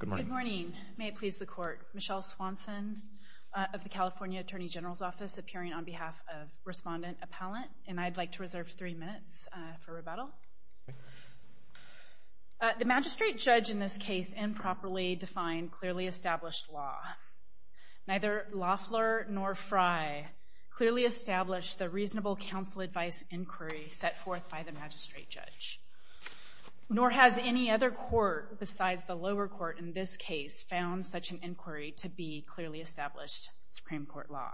Good morning. May it please the court. Michelle Swanson of the California Attorney General's Office appearing on behalf of Respondent Appellant, and I'd like to reserve three minutes for rebuttal. The magistrate judge in this case improperly defined clearly established law. Neither Loeffler nor Frye clearly established the reasonable counsel advice inquiry set nor has any other court besides the lower court in this case found such an inquiry to be clearly established Supreme Court law.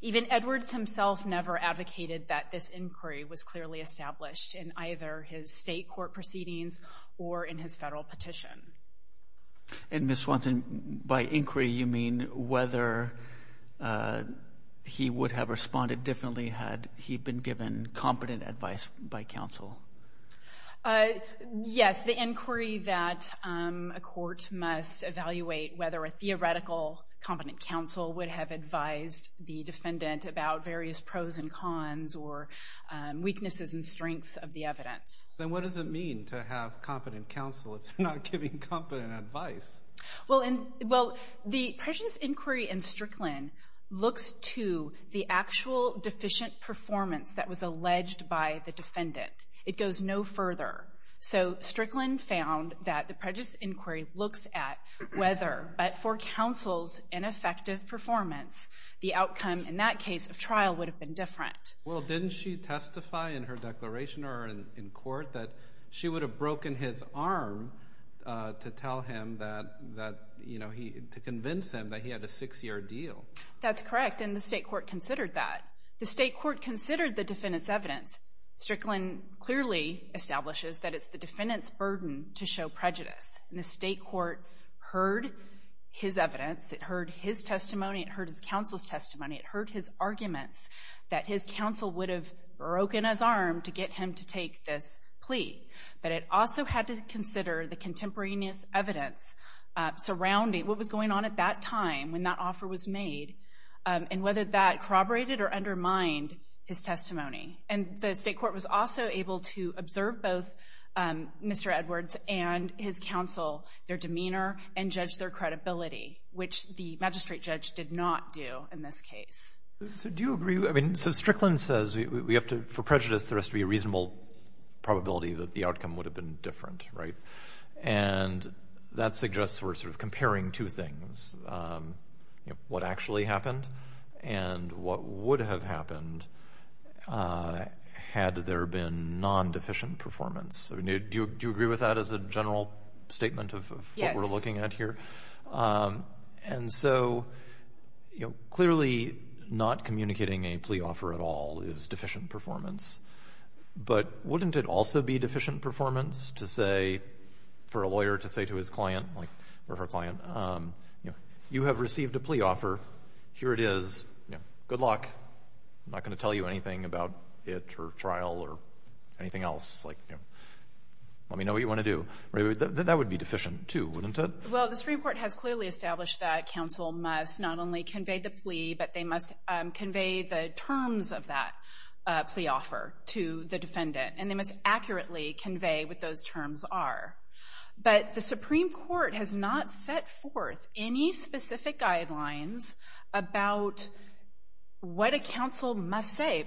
Even Edwards himself never advocated that this inquiry was clearly established in either his state court proceedings or in his federal petition. And Ms. Swanson, by inquiry you mean whether he would have responded differently had he been given competent advice by counsel? Yes, the inquiry that a court must evaluate whether a theoretical competent counsel would have advised the defendant about various pros and cons or weaknesses and strengths of the evidence. Then what does it mean to have competent counsel if they're not giving competent advice? Well, the prejudice inquiry in Strickland looks to the actual deficient performance that was alleged by the defendant. It goes no further. So Strickland found that the prejudice inquiry looks at whether, but for counsel's ineffective performance, the outcome in that case of trial would have been different. Well, didn't she testify in her declaration or in court that she would have broken his arm to convince him that he had a six-year deal? That's correct, and the state court considered that. The state court considered the defendant's evidence. Strickland clearly establishes that it's the defendant's burden to show prejudice. And the state court heard his evidence. It heard his testimony. It heard his counsel's testimony. It heard his arguments that his counsel would have broken his arm to get him to take this plea. But it also had to consider the contemporaneous evidence surrounding what was going on at that time when that offer was made and whether that corroborated or undermined his testimony. And the state court was also able to observe both Mr. Edwards and his counsel, their demeanor, and judge their credibility, which the magistrate judge did not do in this case. So do you agree? I mean, so Strickland says we have to, for prejudice, there has to be a reasonable probability that the outcome would have been different, right? And that suggests we're sort of comparing two things, you know, what actually happened and what would have happened had there been non-deficient performance. Do you agree with that as a general statement of what we're looking at here? Yes. And so, you know, clearly not communicating a plea offer at all is deficient performance. But wouldn't it also be deficient performance to say, for a lawyer to say to his client or her client, you know, you have received a plea offer. Here it is. You know, good luck. I'm not going to tell you anything about it or trial or anything else. Like, you know, let me know what you want to do. That would be deficient, too, wouldn't it? Well, this report has clearly established that counsel must not only convey the plea, but they must convey the terms of that plea offer to the defendant. And they must accurately convey what those terms are. But the Supreme Court has not set forth any specific guidelines about what a counsel must say.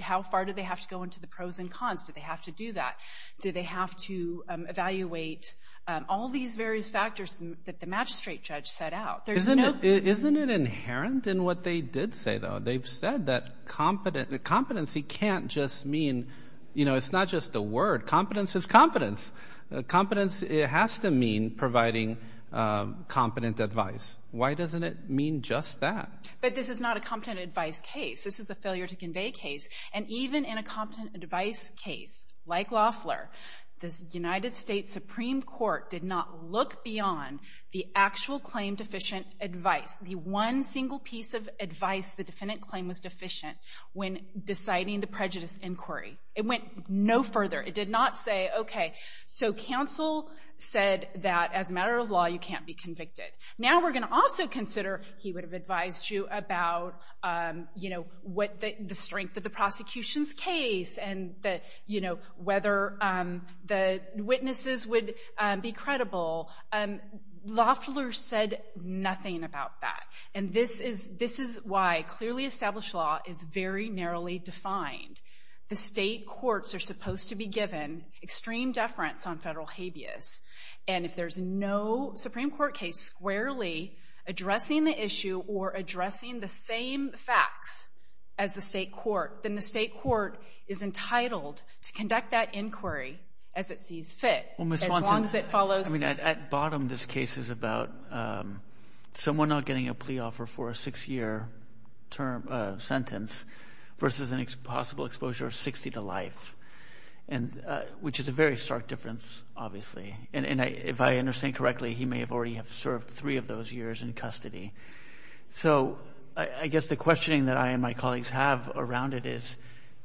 How far do they have to go into the pros and cons? Do they have to do that? Do they have to evaluate all these various factors that the magistrate judge set out? Isn't it inherent in what they did say, though? They've said that competency can't just mean, you know, it's not just a word. Competence is competence. Competence has to mean providing competent advice. Why doesn't it mean just that? But this is not a competent advice case. This is a failure to convey case. And even in a competent advice case, like Loeffler, the United States Supreme Court did not look beyond the actual claim-deficient advice, the one single piece of advice the defendant claimed was deficient when deciding the prejudice inquiry. It went no further. It did not say, okay, so counsel said that as a matter of law, you can't be convicted. Now we're going to also consider, he would have advised you about, you know, the strength of the prosecution's case and, you know, whether the witnesses would be credible. Loeffler said nothing about that. And this is why clearly established law is very narrowly defined. The state courts are supposed to be given extreme deference on federal habeas. And if there's no Supreme Court case squarely addressing the issue or addressing the same facts as the state court, then the state court is entitled to conduct that inquiry as it sees Well, Ms. Swanson, I mean, at bottom this case is about someone not getting a plea offer for a six-year sentence versus a possible exposure of 60 to life, which is a very stark difference obviously. And if I understand correctly, he may have already served three of those years in custody. So I guess the questioning that I and my colleagues have around it is,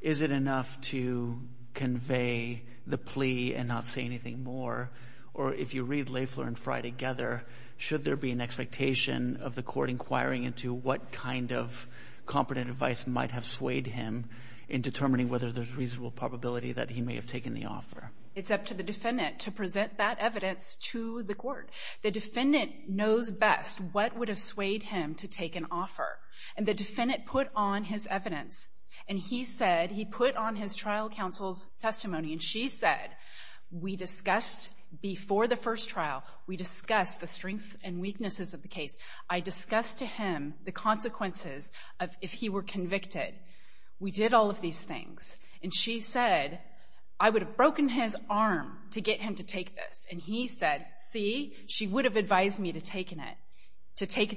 is it enough to convey the plea and not say anything more? Or if you read Loeffler and Fry together, should there be an expectation of the court inquiring into what kind of competent advice might have swayed him in determining whether there's reasonable probability that he may have taken the offer? It's up to the defendant to present that evidence to the court. The defendant knows best what would have swayed him to take an offer. And the defendant put on his evidence. And he said, he put on his trial counsel's testimony, and she said, we discussed before the first trial, we discussed the strengths and weaknesses of the case. I discussed to him the consequences of if he were convicted. We did all of these things. And she said, I would have broken his arm to get him to take this. And he said, see, she would have advised me to take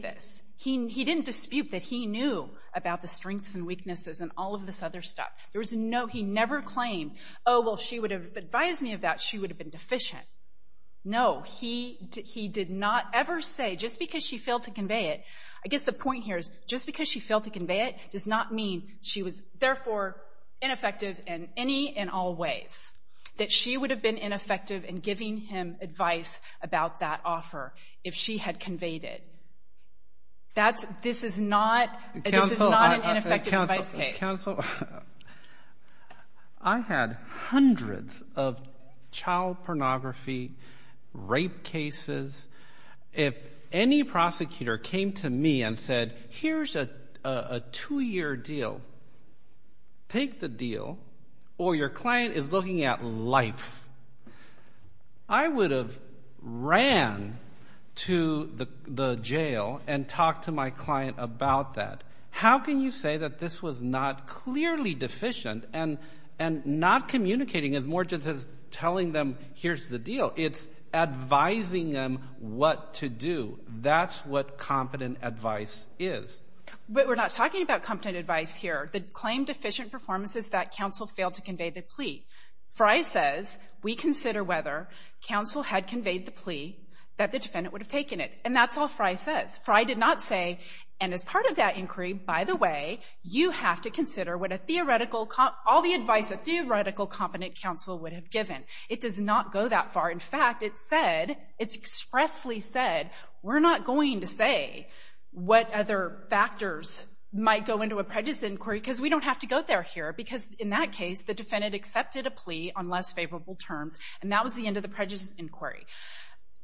this. He didn't dispute that he knew about the strengths and weaknesses and all of this other stuff. He never claimed, oh, well, if she would have advised me of that, she would have been deficient. No, he did not ever say, just because she failed to convey it, I guess the point here is, just because she failed to convey it does not mean she was, therefore, ineffective in any and all ways. That she would have been ineffective in giving him advice about that offer if she had conveyed it. That's, this is not, this is not an ineffective advice case. Counsel, I had hundreds of child pornography, rape cases. If any prosecutor came to me and said, take the deal, or your client is looking at life, I would have ran to the jail and talked to my client about that. How can you say that this was not clearly deficient and not communicating as more just as telling them, here's the deal? It's advising them what to do. That's what competent advice is. We're not talking about competent advice here. The claim deficient performance is that counsel failed to convey the plea. Fry says, we consider whether counsel had conveyed the plea that the defendant would have taken it. And that's all Fry says. Fry did not say, and as part of that inquiry, by the way, you have to consider what a theoretical, all the advice a theoretical competent counsel would have given. It does not go that far. In fact, it said, it's expressly said, we're not going to say what other factors might go into a prejudice inquiry, because we don't have to go there here, because in that case, the defendant accepted a plea on less favorable terms, and that was the end of the prejudice inquiry.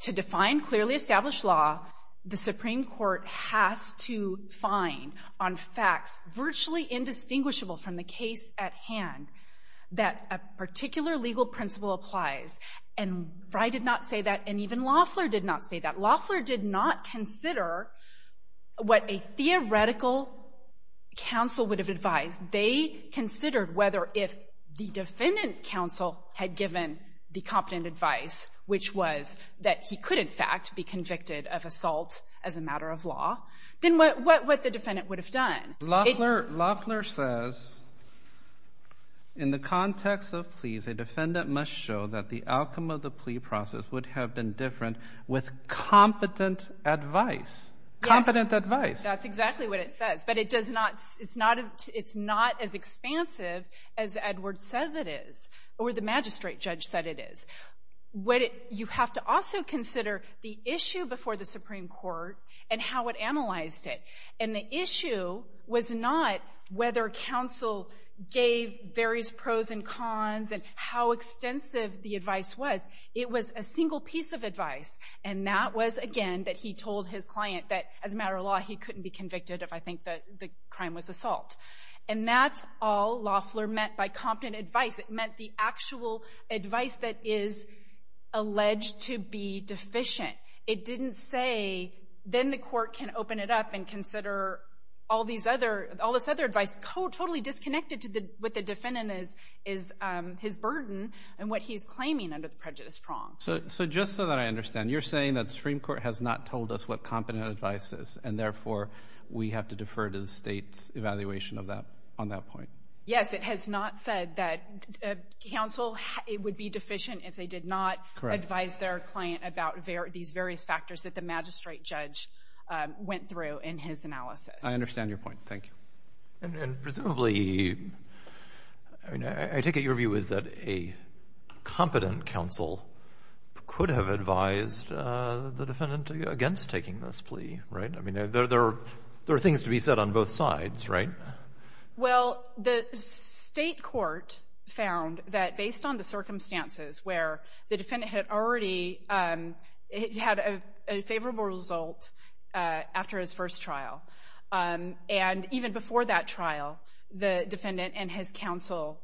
To define clearly established law, the Supreme Court has to find on facts virtually indistinguishable from the case at hand that a particular legal principle applies. And Fry did not say that, and even Loeffler did not say that. Loeffler did not consider what a theoretical counsel would have advised. They considered whether if the defendant's counsel had given the competent advice, which was that he could, in fact, be convicted of assault as a matter of law, then what the defendant would have done. Loeffler says in the context of pleas, a defendant must show that the outcome of the plea process would have been different with competent advice. Competent advice. That's exactly what it says. But it does not — it's not as expansive as Edwards says it is, or the magistrate judge said it is. What it — you have to also consider the issue before the Supreme Court and how it analyzed it. And the issue was not whether counsel gave various pros and cons and how extensive the advice was. It was a single piece of advice. And that was, again, that he told his client that, as a matter of law, he couldn't be convicted if I think that the crime was assault. And that's all Loeffler meant by competent advice. It meant the actual advice that is alleged to be deficient. It didn't say, then the court can open it up and consider all these other — all this other advice totally disconnected to what the defendant is — is his burden and what he's claiming under the prejudice prong. So just so that I understand, you're saying that the Supreme Court has not told us what competent advice is, and therefore we have to defer to the State's evaluation of that on that point? Yes. It has not said that counsel would be deficient if they did not advise their client about these various factors that the magistrate judge went through in his analysis. I understand your point. Thank you. And presumably — I mean, I take it your view is that a competent counsel could have advised the defendant against taking this plea, right? I mean, there are things to be said on both sides, right? Well, the State court found that, based on the circumstances where the defendant had already had a favorable result after his first trial, and even before that trial, the defendant and his counsel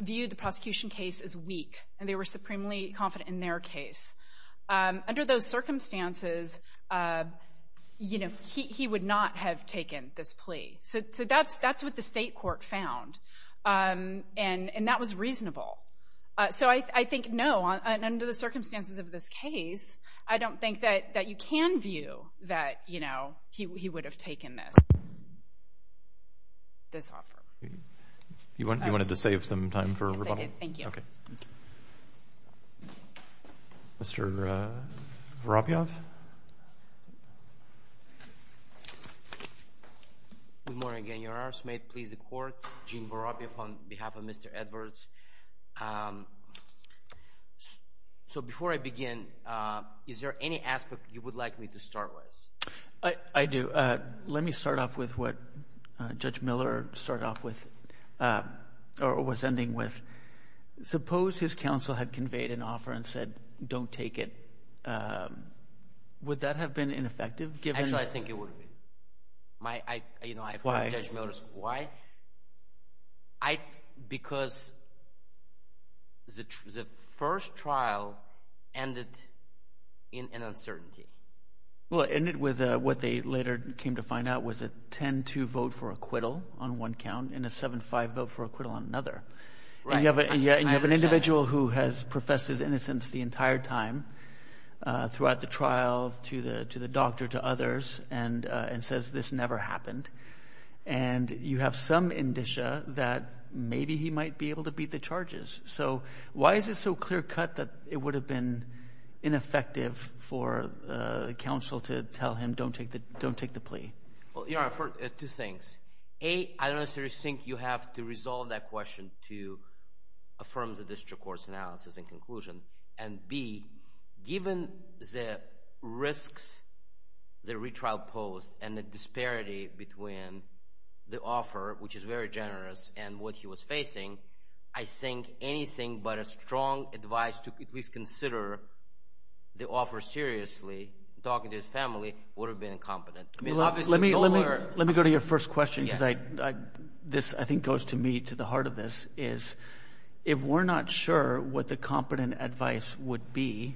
viewed the prosecution case as weak, and they were supremely confident in their case. Under those circumstances, you know, he would not have taken this plea. So that's what the State court found, and that was reasonable. So I think, no, under the circumstances of this case, I don't think that you can view that, you know, he would have taken this offer. You wanted to save some time for rebuttal? Yes, I did. Thank you. Okay. Mr. Vorobiev? Good morning. Your Honors, may it please the Court, Gene Vorobiev on behalf of Mr. Edwards. So, before I begin, is there any aspect you would like me to start with? I do. Let me start off with what Judge Miller started off with, or was ending with. Suppose his counsel had conveyed an offer and said, don't take it. Would that have been ineffective, given? Actually, I think it would have been. Why? Judge Miller's why? Because the first trial ended in an uncertainty. Well, it ended with what they later came to find out was a 10-2 vote for acquittal on one count, and a 7-5 vote for acquittal on another. Right, I understand. And you have an individual who has professed his innocence the entire time throughout the case, and you have some indicia that maybe he might be able to beat the charges. So, why is it so clear-cut that it would have been ineffective for the counsel to tell him don't take the plea? Well, Your Honor, two things. A, I don't necessarily think you have to resolve that question to affirm the district court's analysis and conclusion, and B, given the risks the retrial posed and the disparity between the offer, which is very generous, and what he was facing, I think anything but a strong advice to at least consider the offer seriously, talking to his family, would have been incompetent. Let me go to your first question, because this, I think, goes to me, to the heart of this, is if we're not sure what the competent advice would be,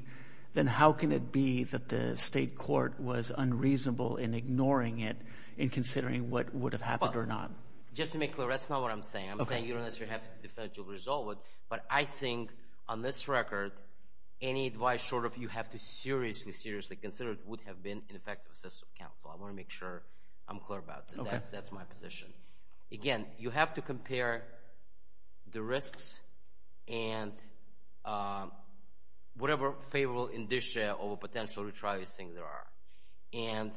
then how can it be that the district is taking it and considering what would have happened or not? Well, just to make clear, that's not what I'm saying. I'm saying you don't necessarily have to definitively resolve it, but I think on this record, any advice short of you have to seriously, seriously consider it would have been ineffective assessment of counsel. I want to make sure I'm clear about this. That's my position. Again, you have to compare the risks and whatever favorable indicia of a potential retrial you think there are.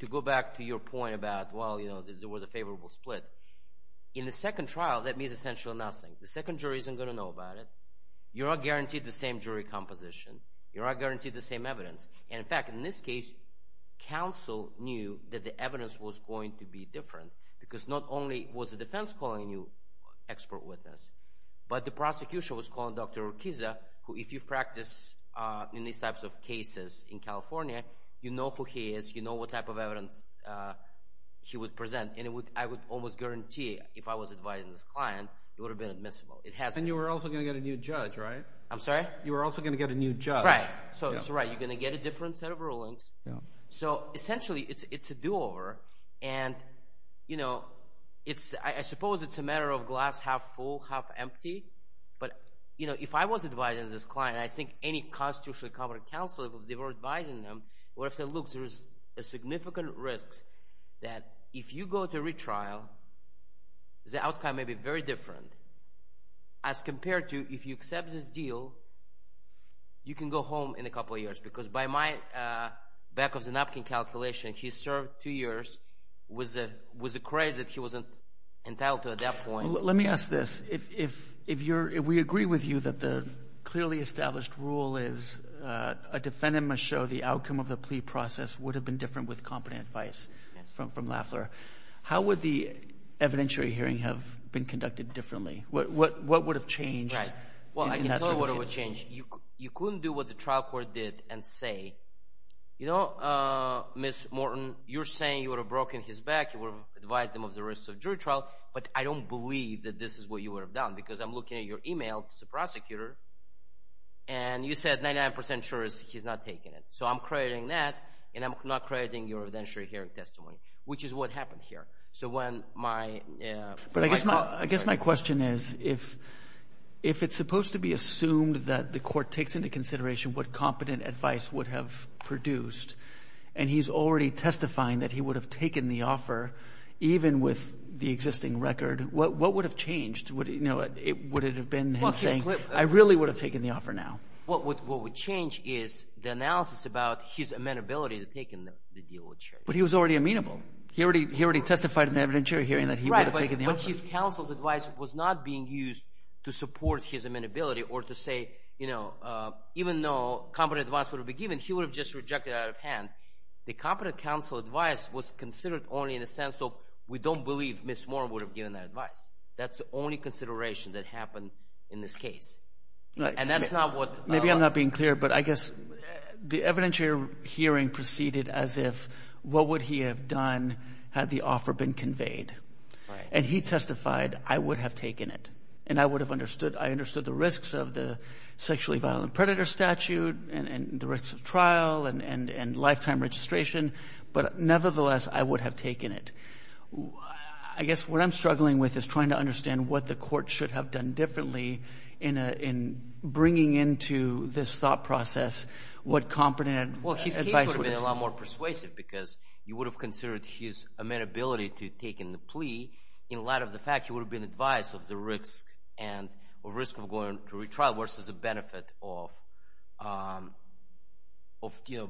To go back to your point about, well, there was a favorable split. In the second trial, that means essentially nothing. The second jury isn't going to know about it. You're not guaranteed the same jury composition. You're not guaranteed the same evidence. In fact, in this case, counsel knew that the evidence was going to be different, because not only was the defense calling you expert witness, but the prosecution was calling Dr. California. You know who he is. You know what type of evidence he would present. I would almost guarantee if I was advising this client, it would have been admissible. It hasn't. You were also going to get a new judge, right? I'm sorry? You were also going to get a new judge. Right. That's right. You're going to get a different set of rulings. Essentially, it's a do-over. I suppose it's a matter of glass half-full, half-empty, but if I was advising this client, and I think any constitutionally competent counsel, if they were advising them, would have said, look, there is a significant risk that if you go to retrial, the outcome may be very different as compared to if you accept this deal, you can go home in a couple of years. Because by my back-of-the-napkin calculation, he served two years with the credit that he was entitled to at that point. Let me ask this. If we agree with you that the clearly established rule is a defendant must show the outcome of the plea process would have been different with competent advice from Lafler, how would the evidentiary hearing have been conducted differently? What would have changed? Well, I can tell you what would have changed. You couldn't do what the trial court did and say, you know, Ms. Morton, you're saying you would have broken his back. You would have advised him of the risks of jury trial. But I don't believe that this is what you would have done because I'm looking at your email as a prosecutor, and you said 99% sure he's not taking it. So I'm crediting that, and I'm not crediting your evidentiary hearing testimony, which is what happened here. So when my – But I guess my question is if it's supposed to be assumed that the court takes into consideration what competent advice would have produced, and he's already testifying that he would have taken the offer even with the existing record, what would have changed? Would it have been him saying, I really would have taken the offer now? What would change is the analysis about his amenability to taking the deal with the jury. But he was already amenable. He already testified in the evidentiary hearing that he would have taken the offer. Right, but his counsel's advice was not being used to support his amenability or to say, you know, even though competent advice would have been given, he would have just rejected it out of hand. The competent counsel advice was considered only in the sense of we don't believe Ms. Warren would have given that advice. That's the only consideration that happened in this case, and that's not what – Maybe I'm not being clear, but I guess the evidentiary hearing proceeded as if what would he have done had the offer been conveyed? Right. And he testified, I would have taken it, and I would have understood – I understood the risks of the sexually violent predator statute and the risks of trial and lifetime registration, but nevertheless, I would have taken it. I guess what I'm struggling with is trying to understand what the court should have done differently in bringing into this thought process what competent advice would have – Well, his case would have been a lot more persuasive because you would have considered his amenability to taking the plea in light of the fact he would have been advised of the risk of going to retrial versus the benefit of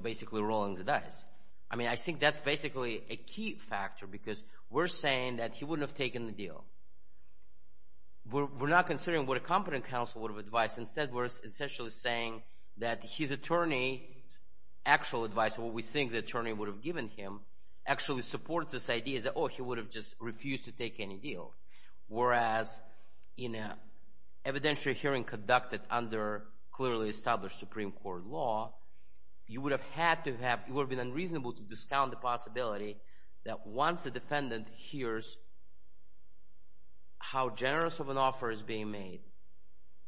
basically rolling the dice. I mean, I think that's basically a key factor because we're saying that he wouldn't have taken the deal. We're not considering what a competent counsel would have advised. Instead, we're essentially saying that his attorney's actual advice, what we think the attorney would have given him, actually supports this idea that, oh, he would have just refused to take any deal, whereas in an evidentiary hearing conducted under clearly established Supreme Court law, you would have had to have – it would have been unreasonable to discount the possibility that once the defendant hears how generous of an offer is being made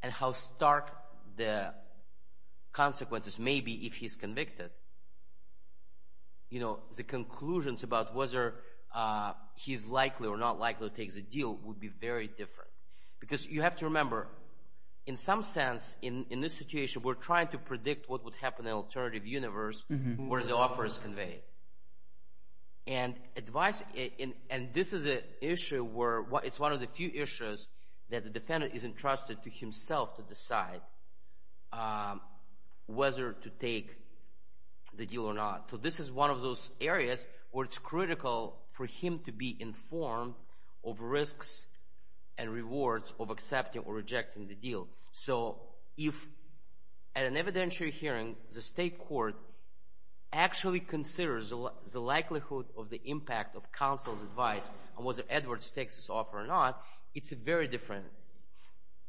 and how stark the consequences may be if he's convicted, the conclusions about whether he's likely or not likely to take the deal would be very different. Because you have to remember, in some sense, in this situation, we're trying to predict what would happen in an alternative universe where the offer is conveyed. And this is an issue where it's one of the few issues that the defendant isn't entrusted to himself to decide whether to take the deal or not. So this is one of those areas where it's critical for him to be informed of risks and rewards of accepting or rejecting the deal. So if, at an evidentiary hearing, the state court actually considers the likelihood of the impact of counsel's advice on whether Edwards takes this offer or not, it's very different.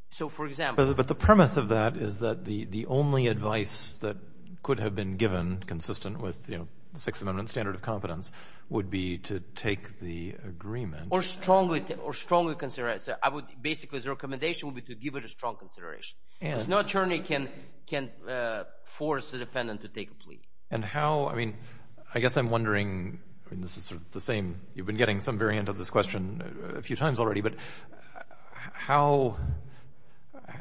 So, for example – But the premise of that is that the only advice that could have been given consistent with the Sixth Amendment standard of competence would be to take the agreement – Or strongly consider it. So I would – basically, the recommendation would be to give it a strong consideration. Because no attorney can force the defendant to take a plea. And how – I mean, I guess I'm wondering – I mean, this is sort of the same – a few times already – but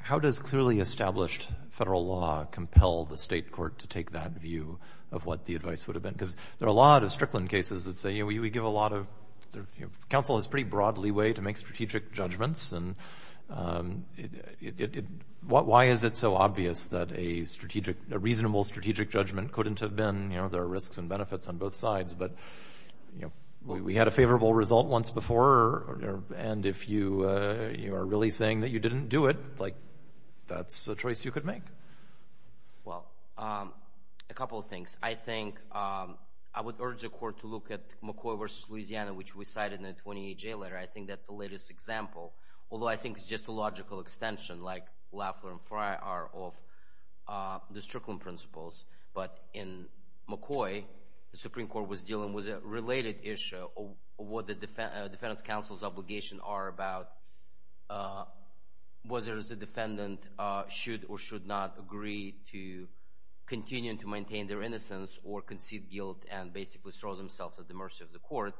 how does clearly established federal law compel the state court to take that view of what the advice would have been? Because there are a lot of Strickland cases that say, you know, we give a lot of – counsel has pretty broad leeway to make strategic judgments. Why is it so obvious that a strategic – a reasonable strategic judgment couldn't have been – you know, there are risks and benefits on both sides. But, you know, we had a favorable result once before. And if you are really saying that you didn't do it, like, that's a choice you could make. Well, a couple of things. I think – I would urge the court to look at McCoy v. Louisiana, which we cited in the 28-J letter. I think that's the latest example. Although I think it's just a logical extension, like Lafleur and Fry are, of the Strickland principles. But in McCoy, the Supreme Court was dealing with a related issue of what the defendant's counsel's obligations are about whether the defendant should or should not agree to continue to maintain their innocence or concede guilt and basically throw themselves at the mercy of the court.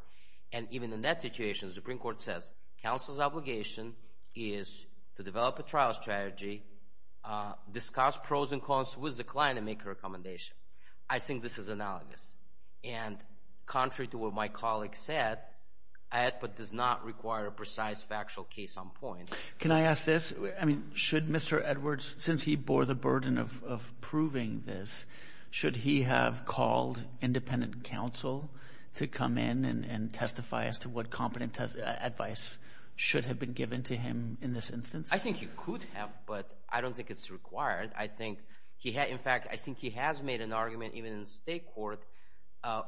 And even in that situation, the Supreme Court says counsel's obligation is to develop a trial strategy, discuss pros and cons with the client and make a recommendation. I think this is analogous. And contrary to what my colleague said, it does not require a precise factual case on point. Can I ask this? I mean, should Mr. Edwards, since he bore the burden of proving this, should he have called independent counsel to come in and testify as to what competent advice should have been given to him in this instance? I think he could have, but I don't think it's required. In fact, I think he has made an argument even in the state court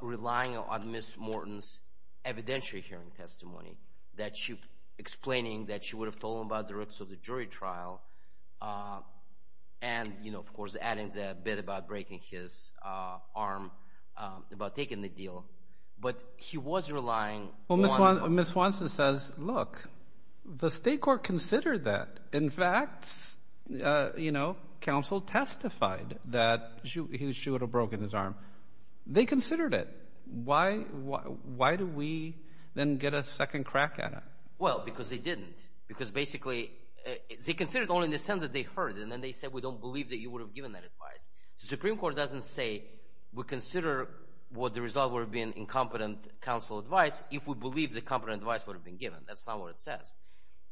relying on Ms. Morton's evidentiary hearing testimony, explaining that she would have told him about the risks of the jury trial and, of course, adding the bit about breaking his arm, about taking the deal. But he was relying on- Well, Ms. Watson says, look, the state court considered that. In fact, counsel testified that he should have broken his arm. They considered it. Why do we then get a second crack at it? Well, because they didn't. Because basically they considered only in the sense that they heard it, and then they said, we don't believe that you would have given that advice. The Supreme Court doesn't say, we consider what the result would have been incompetent counsel advice if we believe the competent advice would have been given. That's not what it says.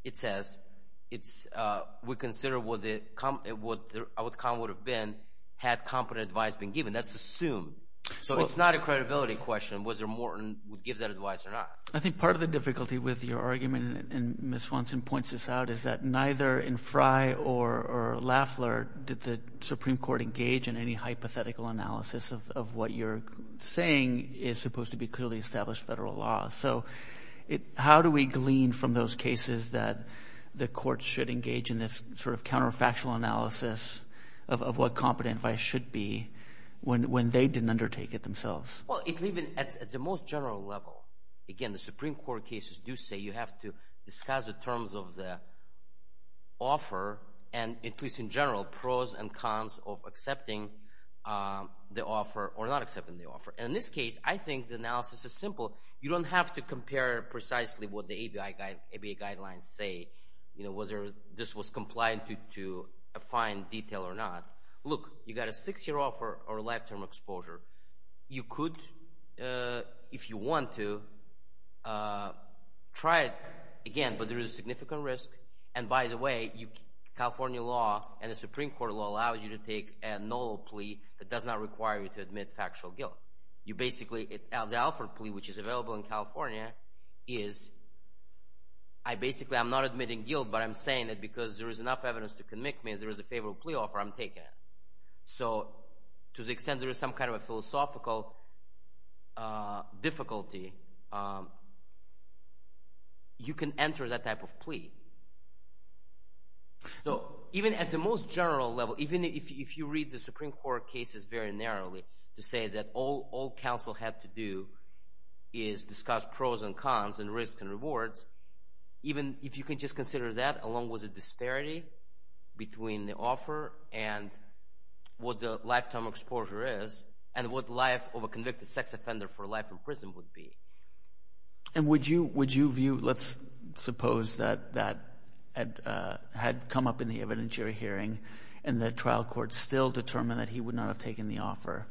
It says, we consider what the outcome would have been had competent advice been given. That's assumed. So it's not a credibility question, whether Morton would give that advice or not. I think part of the difficulty with your argument, and Ms. Watson points this out, is that neither in Fry or Lafleur did the Supreme Court engage in any hypothetical analysis of what you're saying is supposed to be clearly established federal law. So how do we glean from those cases that the courts should engage in this sort of counterfactual analysis of what competent advice should be when they didn't undertake it themselves? Well, even at the most general level, again, the Supreme Court cases do say you have to discuss the terms of the offer, and at least in general, pros and cons of accepting the offer or not accepting the offer. In this case, I think the analysis is simple. You don't have to compare precisely what the ABA guidelines say, whether this was compliant to a fine detail or not. Look, you got a six-year offer or a life-term exposure. You could, if you want to, try it again, but there is a significant risk. And by the way, California law and the Supreme Court law allows you to take a null plea that does not require you to admit factual guilt. Basically, the Alford plea, which is available in California, is basically I'm not admitting guilt, but I'm saying it because there is enough evidence to convict me. If there is a favorable plea offer, I'm taking it. So to the extent there is some kind of a philosophical difficulty, you can enter that type of plea. So even at the most general level, even if you read the Supreme Court cases very narrowly, to say that all counsel had to do is discuss pros and cons and risks and rewards, even if you can just consider that along with the disparity between the offer and what the life-term exposure is and what the life of a convicted sex offender for life in prison would be. And would you view, let's suppose that had come up in the evidentiary hearing and the trial court still determined that he would not have taken the offer,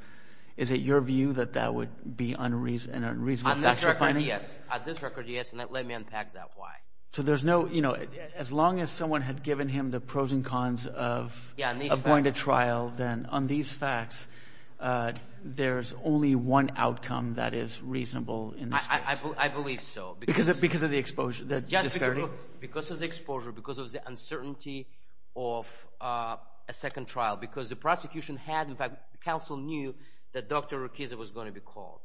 is it your view that that would be an unreasonable... On this record, yes. On this record, yes, and let me unpack that why. So there's no... As long as someone had given him the pros and cons of going to trial, then on these facts, there's only one outcome that is reasonable in this case. I believe so. Because of the exposure, the disparity? Because of the exposure, because of the uncertainty of a second trial. Because the prosecution had... In fact, the counsel knew that Dr. Rukiza was going to be called.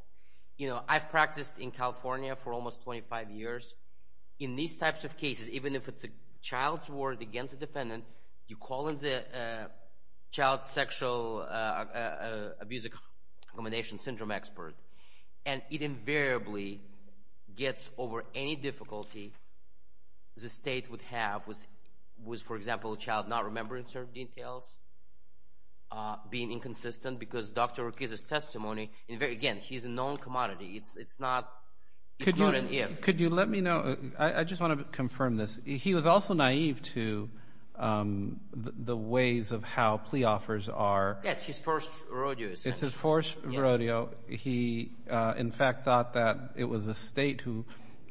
You know, I've practiced in California for almost 25 years. In these types of cases, even if it's a child's word against the defendant, you call in the child sexual abuse accommodation syndrome expert, and it invariably gets over any difficulty the state would have with, for example, a child not remembering certain details, being inconsistent, because Dr. Rukiza's testimony... Again, he's a known commodity. It's not an if. Could you let me know... I just want to confirm this. He was also naive to the ways of how plea offers are... Yes, his first rodeo, essentially. It's his first rodeo. He, in fact, thought that it was the state who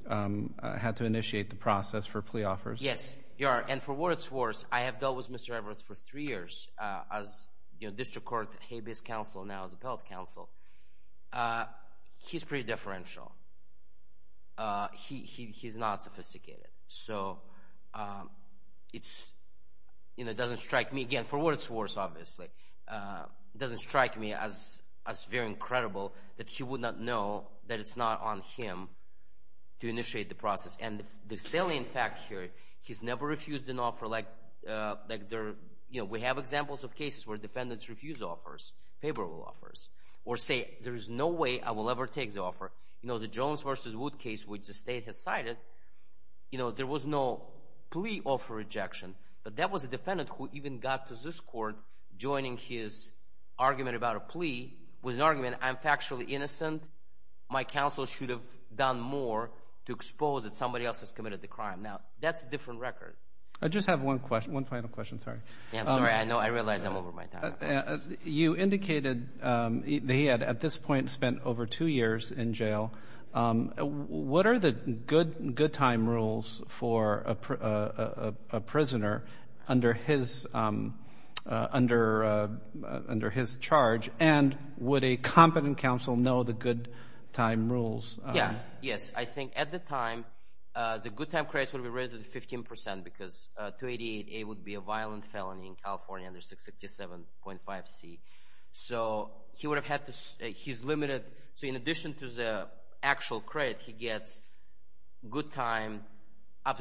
had to initiate the process for plea offers. Yes, you are. And for worse or worse, I have dealt with Mr. Everett for three years as district court habeas counsel, now as appellate counsel. He's pretty differential. He's not sophisticated. So it doesn't strike me... Again, for worse or worse, obviously. It doesn't strike me as very incredible that he would not know that it's not on him to initiate the process. And the salient fact here, he's never refused an offer like... We have examples of cases where defendants refuse offers, favorable offers, or say, there is no way I will ever take the offer. The Jones v. Wood case, which the state has cited, there was no plea offer rejection. But that was a defendant who even got to this court, joining his argument about a plea with an argument, I'm factually innocent. My counsel should have done more to expose that somebody else has committed the crime. Now, that's a different record. I just have one final question. Sorry. I realize I'm over my time. You indicated that he had, at this point, spent over two years in jail. What are the good-time rules for a prisoner under his charge? And would a competent counsel know the good-time rules? Yes. I think, at the time, the good-time credits would have been raised to 15%, because 288A would be a violent felony in California under 667.5C. So, he would have had to... He's limited... So, in addition to the actual credit, he gets good-time up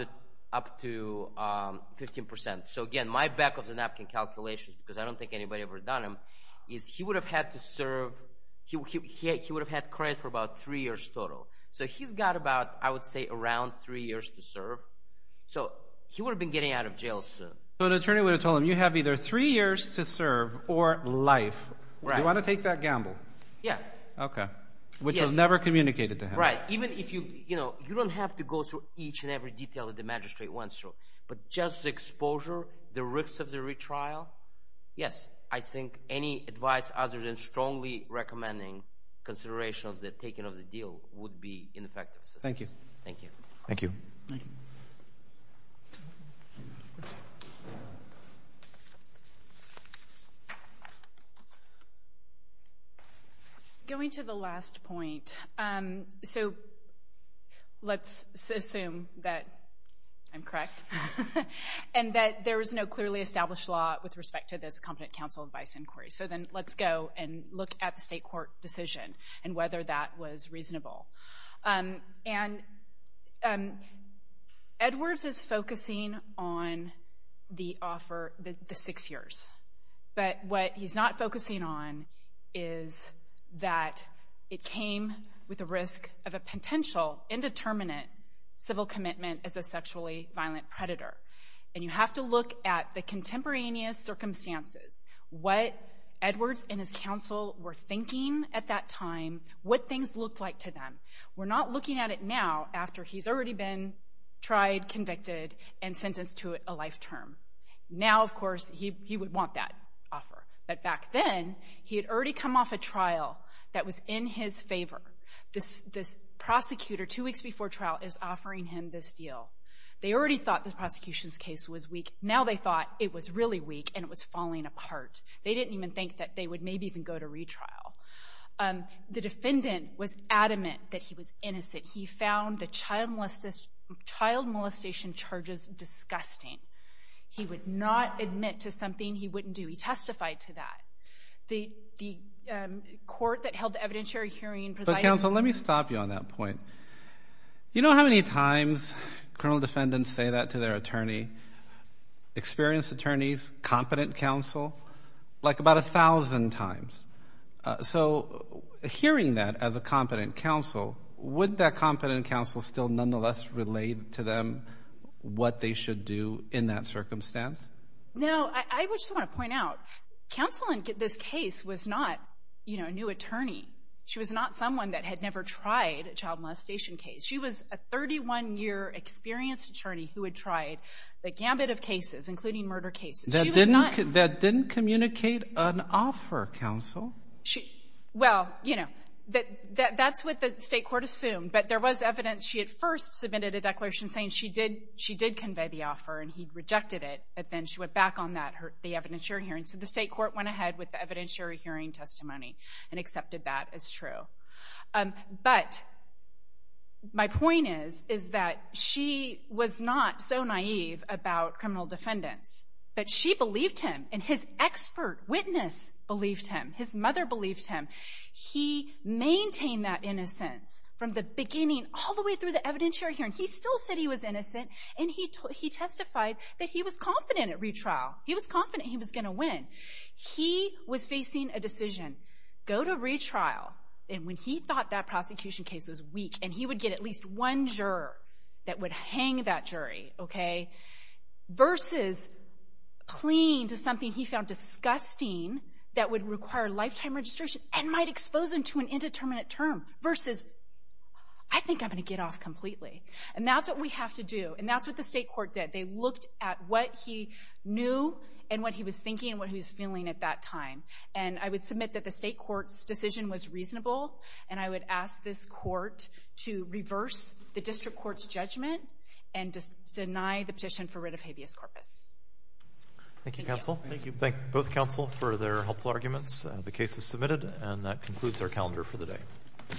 to 15%. So, again, my back-of-the-napkin calculations, because I don't think he would have had to serve... He would have had credit for about three years total. So, he's got about, I would say, around three years to serve. So, he would have been getting out of jail soon. So, an attorney would have told him, you have either three years to serve or life. Right. Do you want to take that gamble? Yeah. Okay. Which was never communicated to him. Right. You don't have to go through each and every detail that the magistrate went through, but just the exposure, the risks of the retrial... Yes. I think any advice other than strongly recommending consideration of the taking of the deal would be ineffective. Thank you. Thank you. Going to the last point... So, let's assume that I'm correct and that there is no clearly established law with respect to this Competent Counsel Advice Inquiry. So, then, let's go and look at the state court decision and whether that was reasonable. And Edwards is focusing on the offer, the six years. But what he's not focusing on is that it came with the risk of a potential indeterminate civil commitment as a sexually violent predator. And you have to look at the contemporaneous circumstances. What Edwards and his counsel were thinking at that time, what things looked like to them. We're not looking at it now, after he's already been tried, convicted, and sentenced to a life term. Now, of course, he would want that offer. But back then, he had already come off a trial that was in his favor. This prosecutor, two weeks before trial, is offering him this deal. They already thought the prosecution's case was weak. Now they thought it was really weak, and it was falling apart. They didn't even think that they would maybe even go to retrial. The defendant was adamant that he was innocent. He found the child molestation charges disgusting. He would not admit to something he wouldn't do. He testified to that. The court that held the evidentiary hearing... But, counsel, let me stop you on that point. You know how many times criminal defendants say that to their attorney, experienced attorneys, competent counsel? Like, about a thousand times. So, hearing that as a competent counsel, would that competent counsel still nonetheless relate to them what they should do in that circumstance? No, I just want to point out, counsel in this case was not a new attorney. She was not someone that had never tried a child molestation case. She was a 31-year experienced attorney who had tried the gambit of cases, including murder cases. She was not... That didn't communicate an offer, counsel. Well, you know, that's what the state court assumed. But there was evidence. She had first submitted a declaration saying she did convey the offer, and he rejected it. But then she went back on that, the evidentiary hearing. So the state court went ahead with the evidentiary hearing testimony and accepted that as true. But, my point is, is that she was not so naive about criminal defendants. But she believed him, and his expert witness believed him. His mother believed him. He maintained that innocence from the beginning, all the way through the evidentiary hearing. He still said he was innocent, and he testified that he was confident at retrial. He was confident he was going to win. He was facing a decision. Go to retrial, and when he thought that prosecution case was weak, and he would get at least one juror that would hang that jury, okay? Versus clinging to something he found disgusting that would require lifetime registration and might expose him to an indeterminate term. Versus, I think I'm going to get off completely. And that's what we have to do. And that's what the state court did. They looked at what he was thinking and what he was feeling at that time. And I would submit that the state court's decision was reasonable, and I would ask this court to reverse the district court's judgment and deny the petition for writ of habeas corpus. Thank you, counsel. Thank you. Thank both counsel for their helpful arguments. The case is submitted, and that concludes our calendar for the day.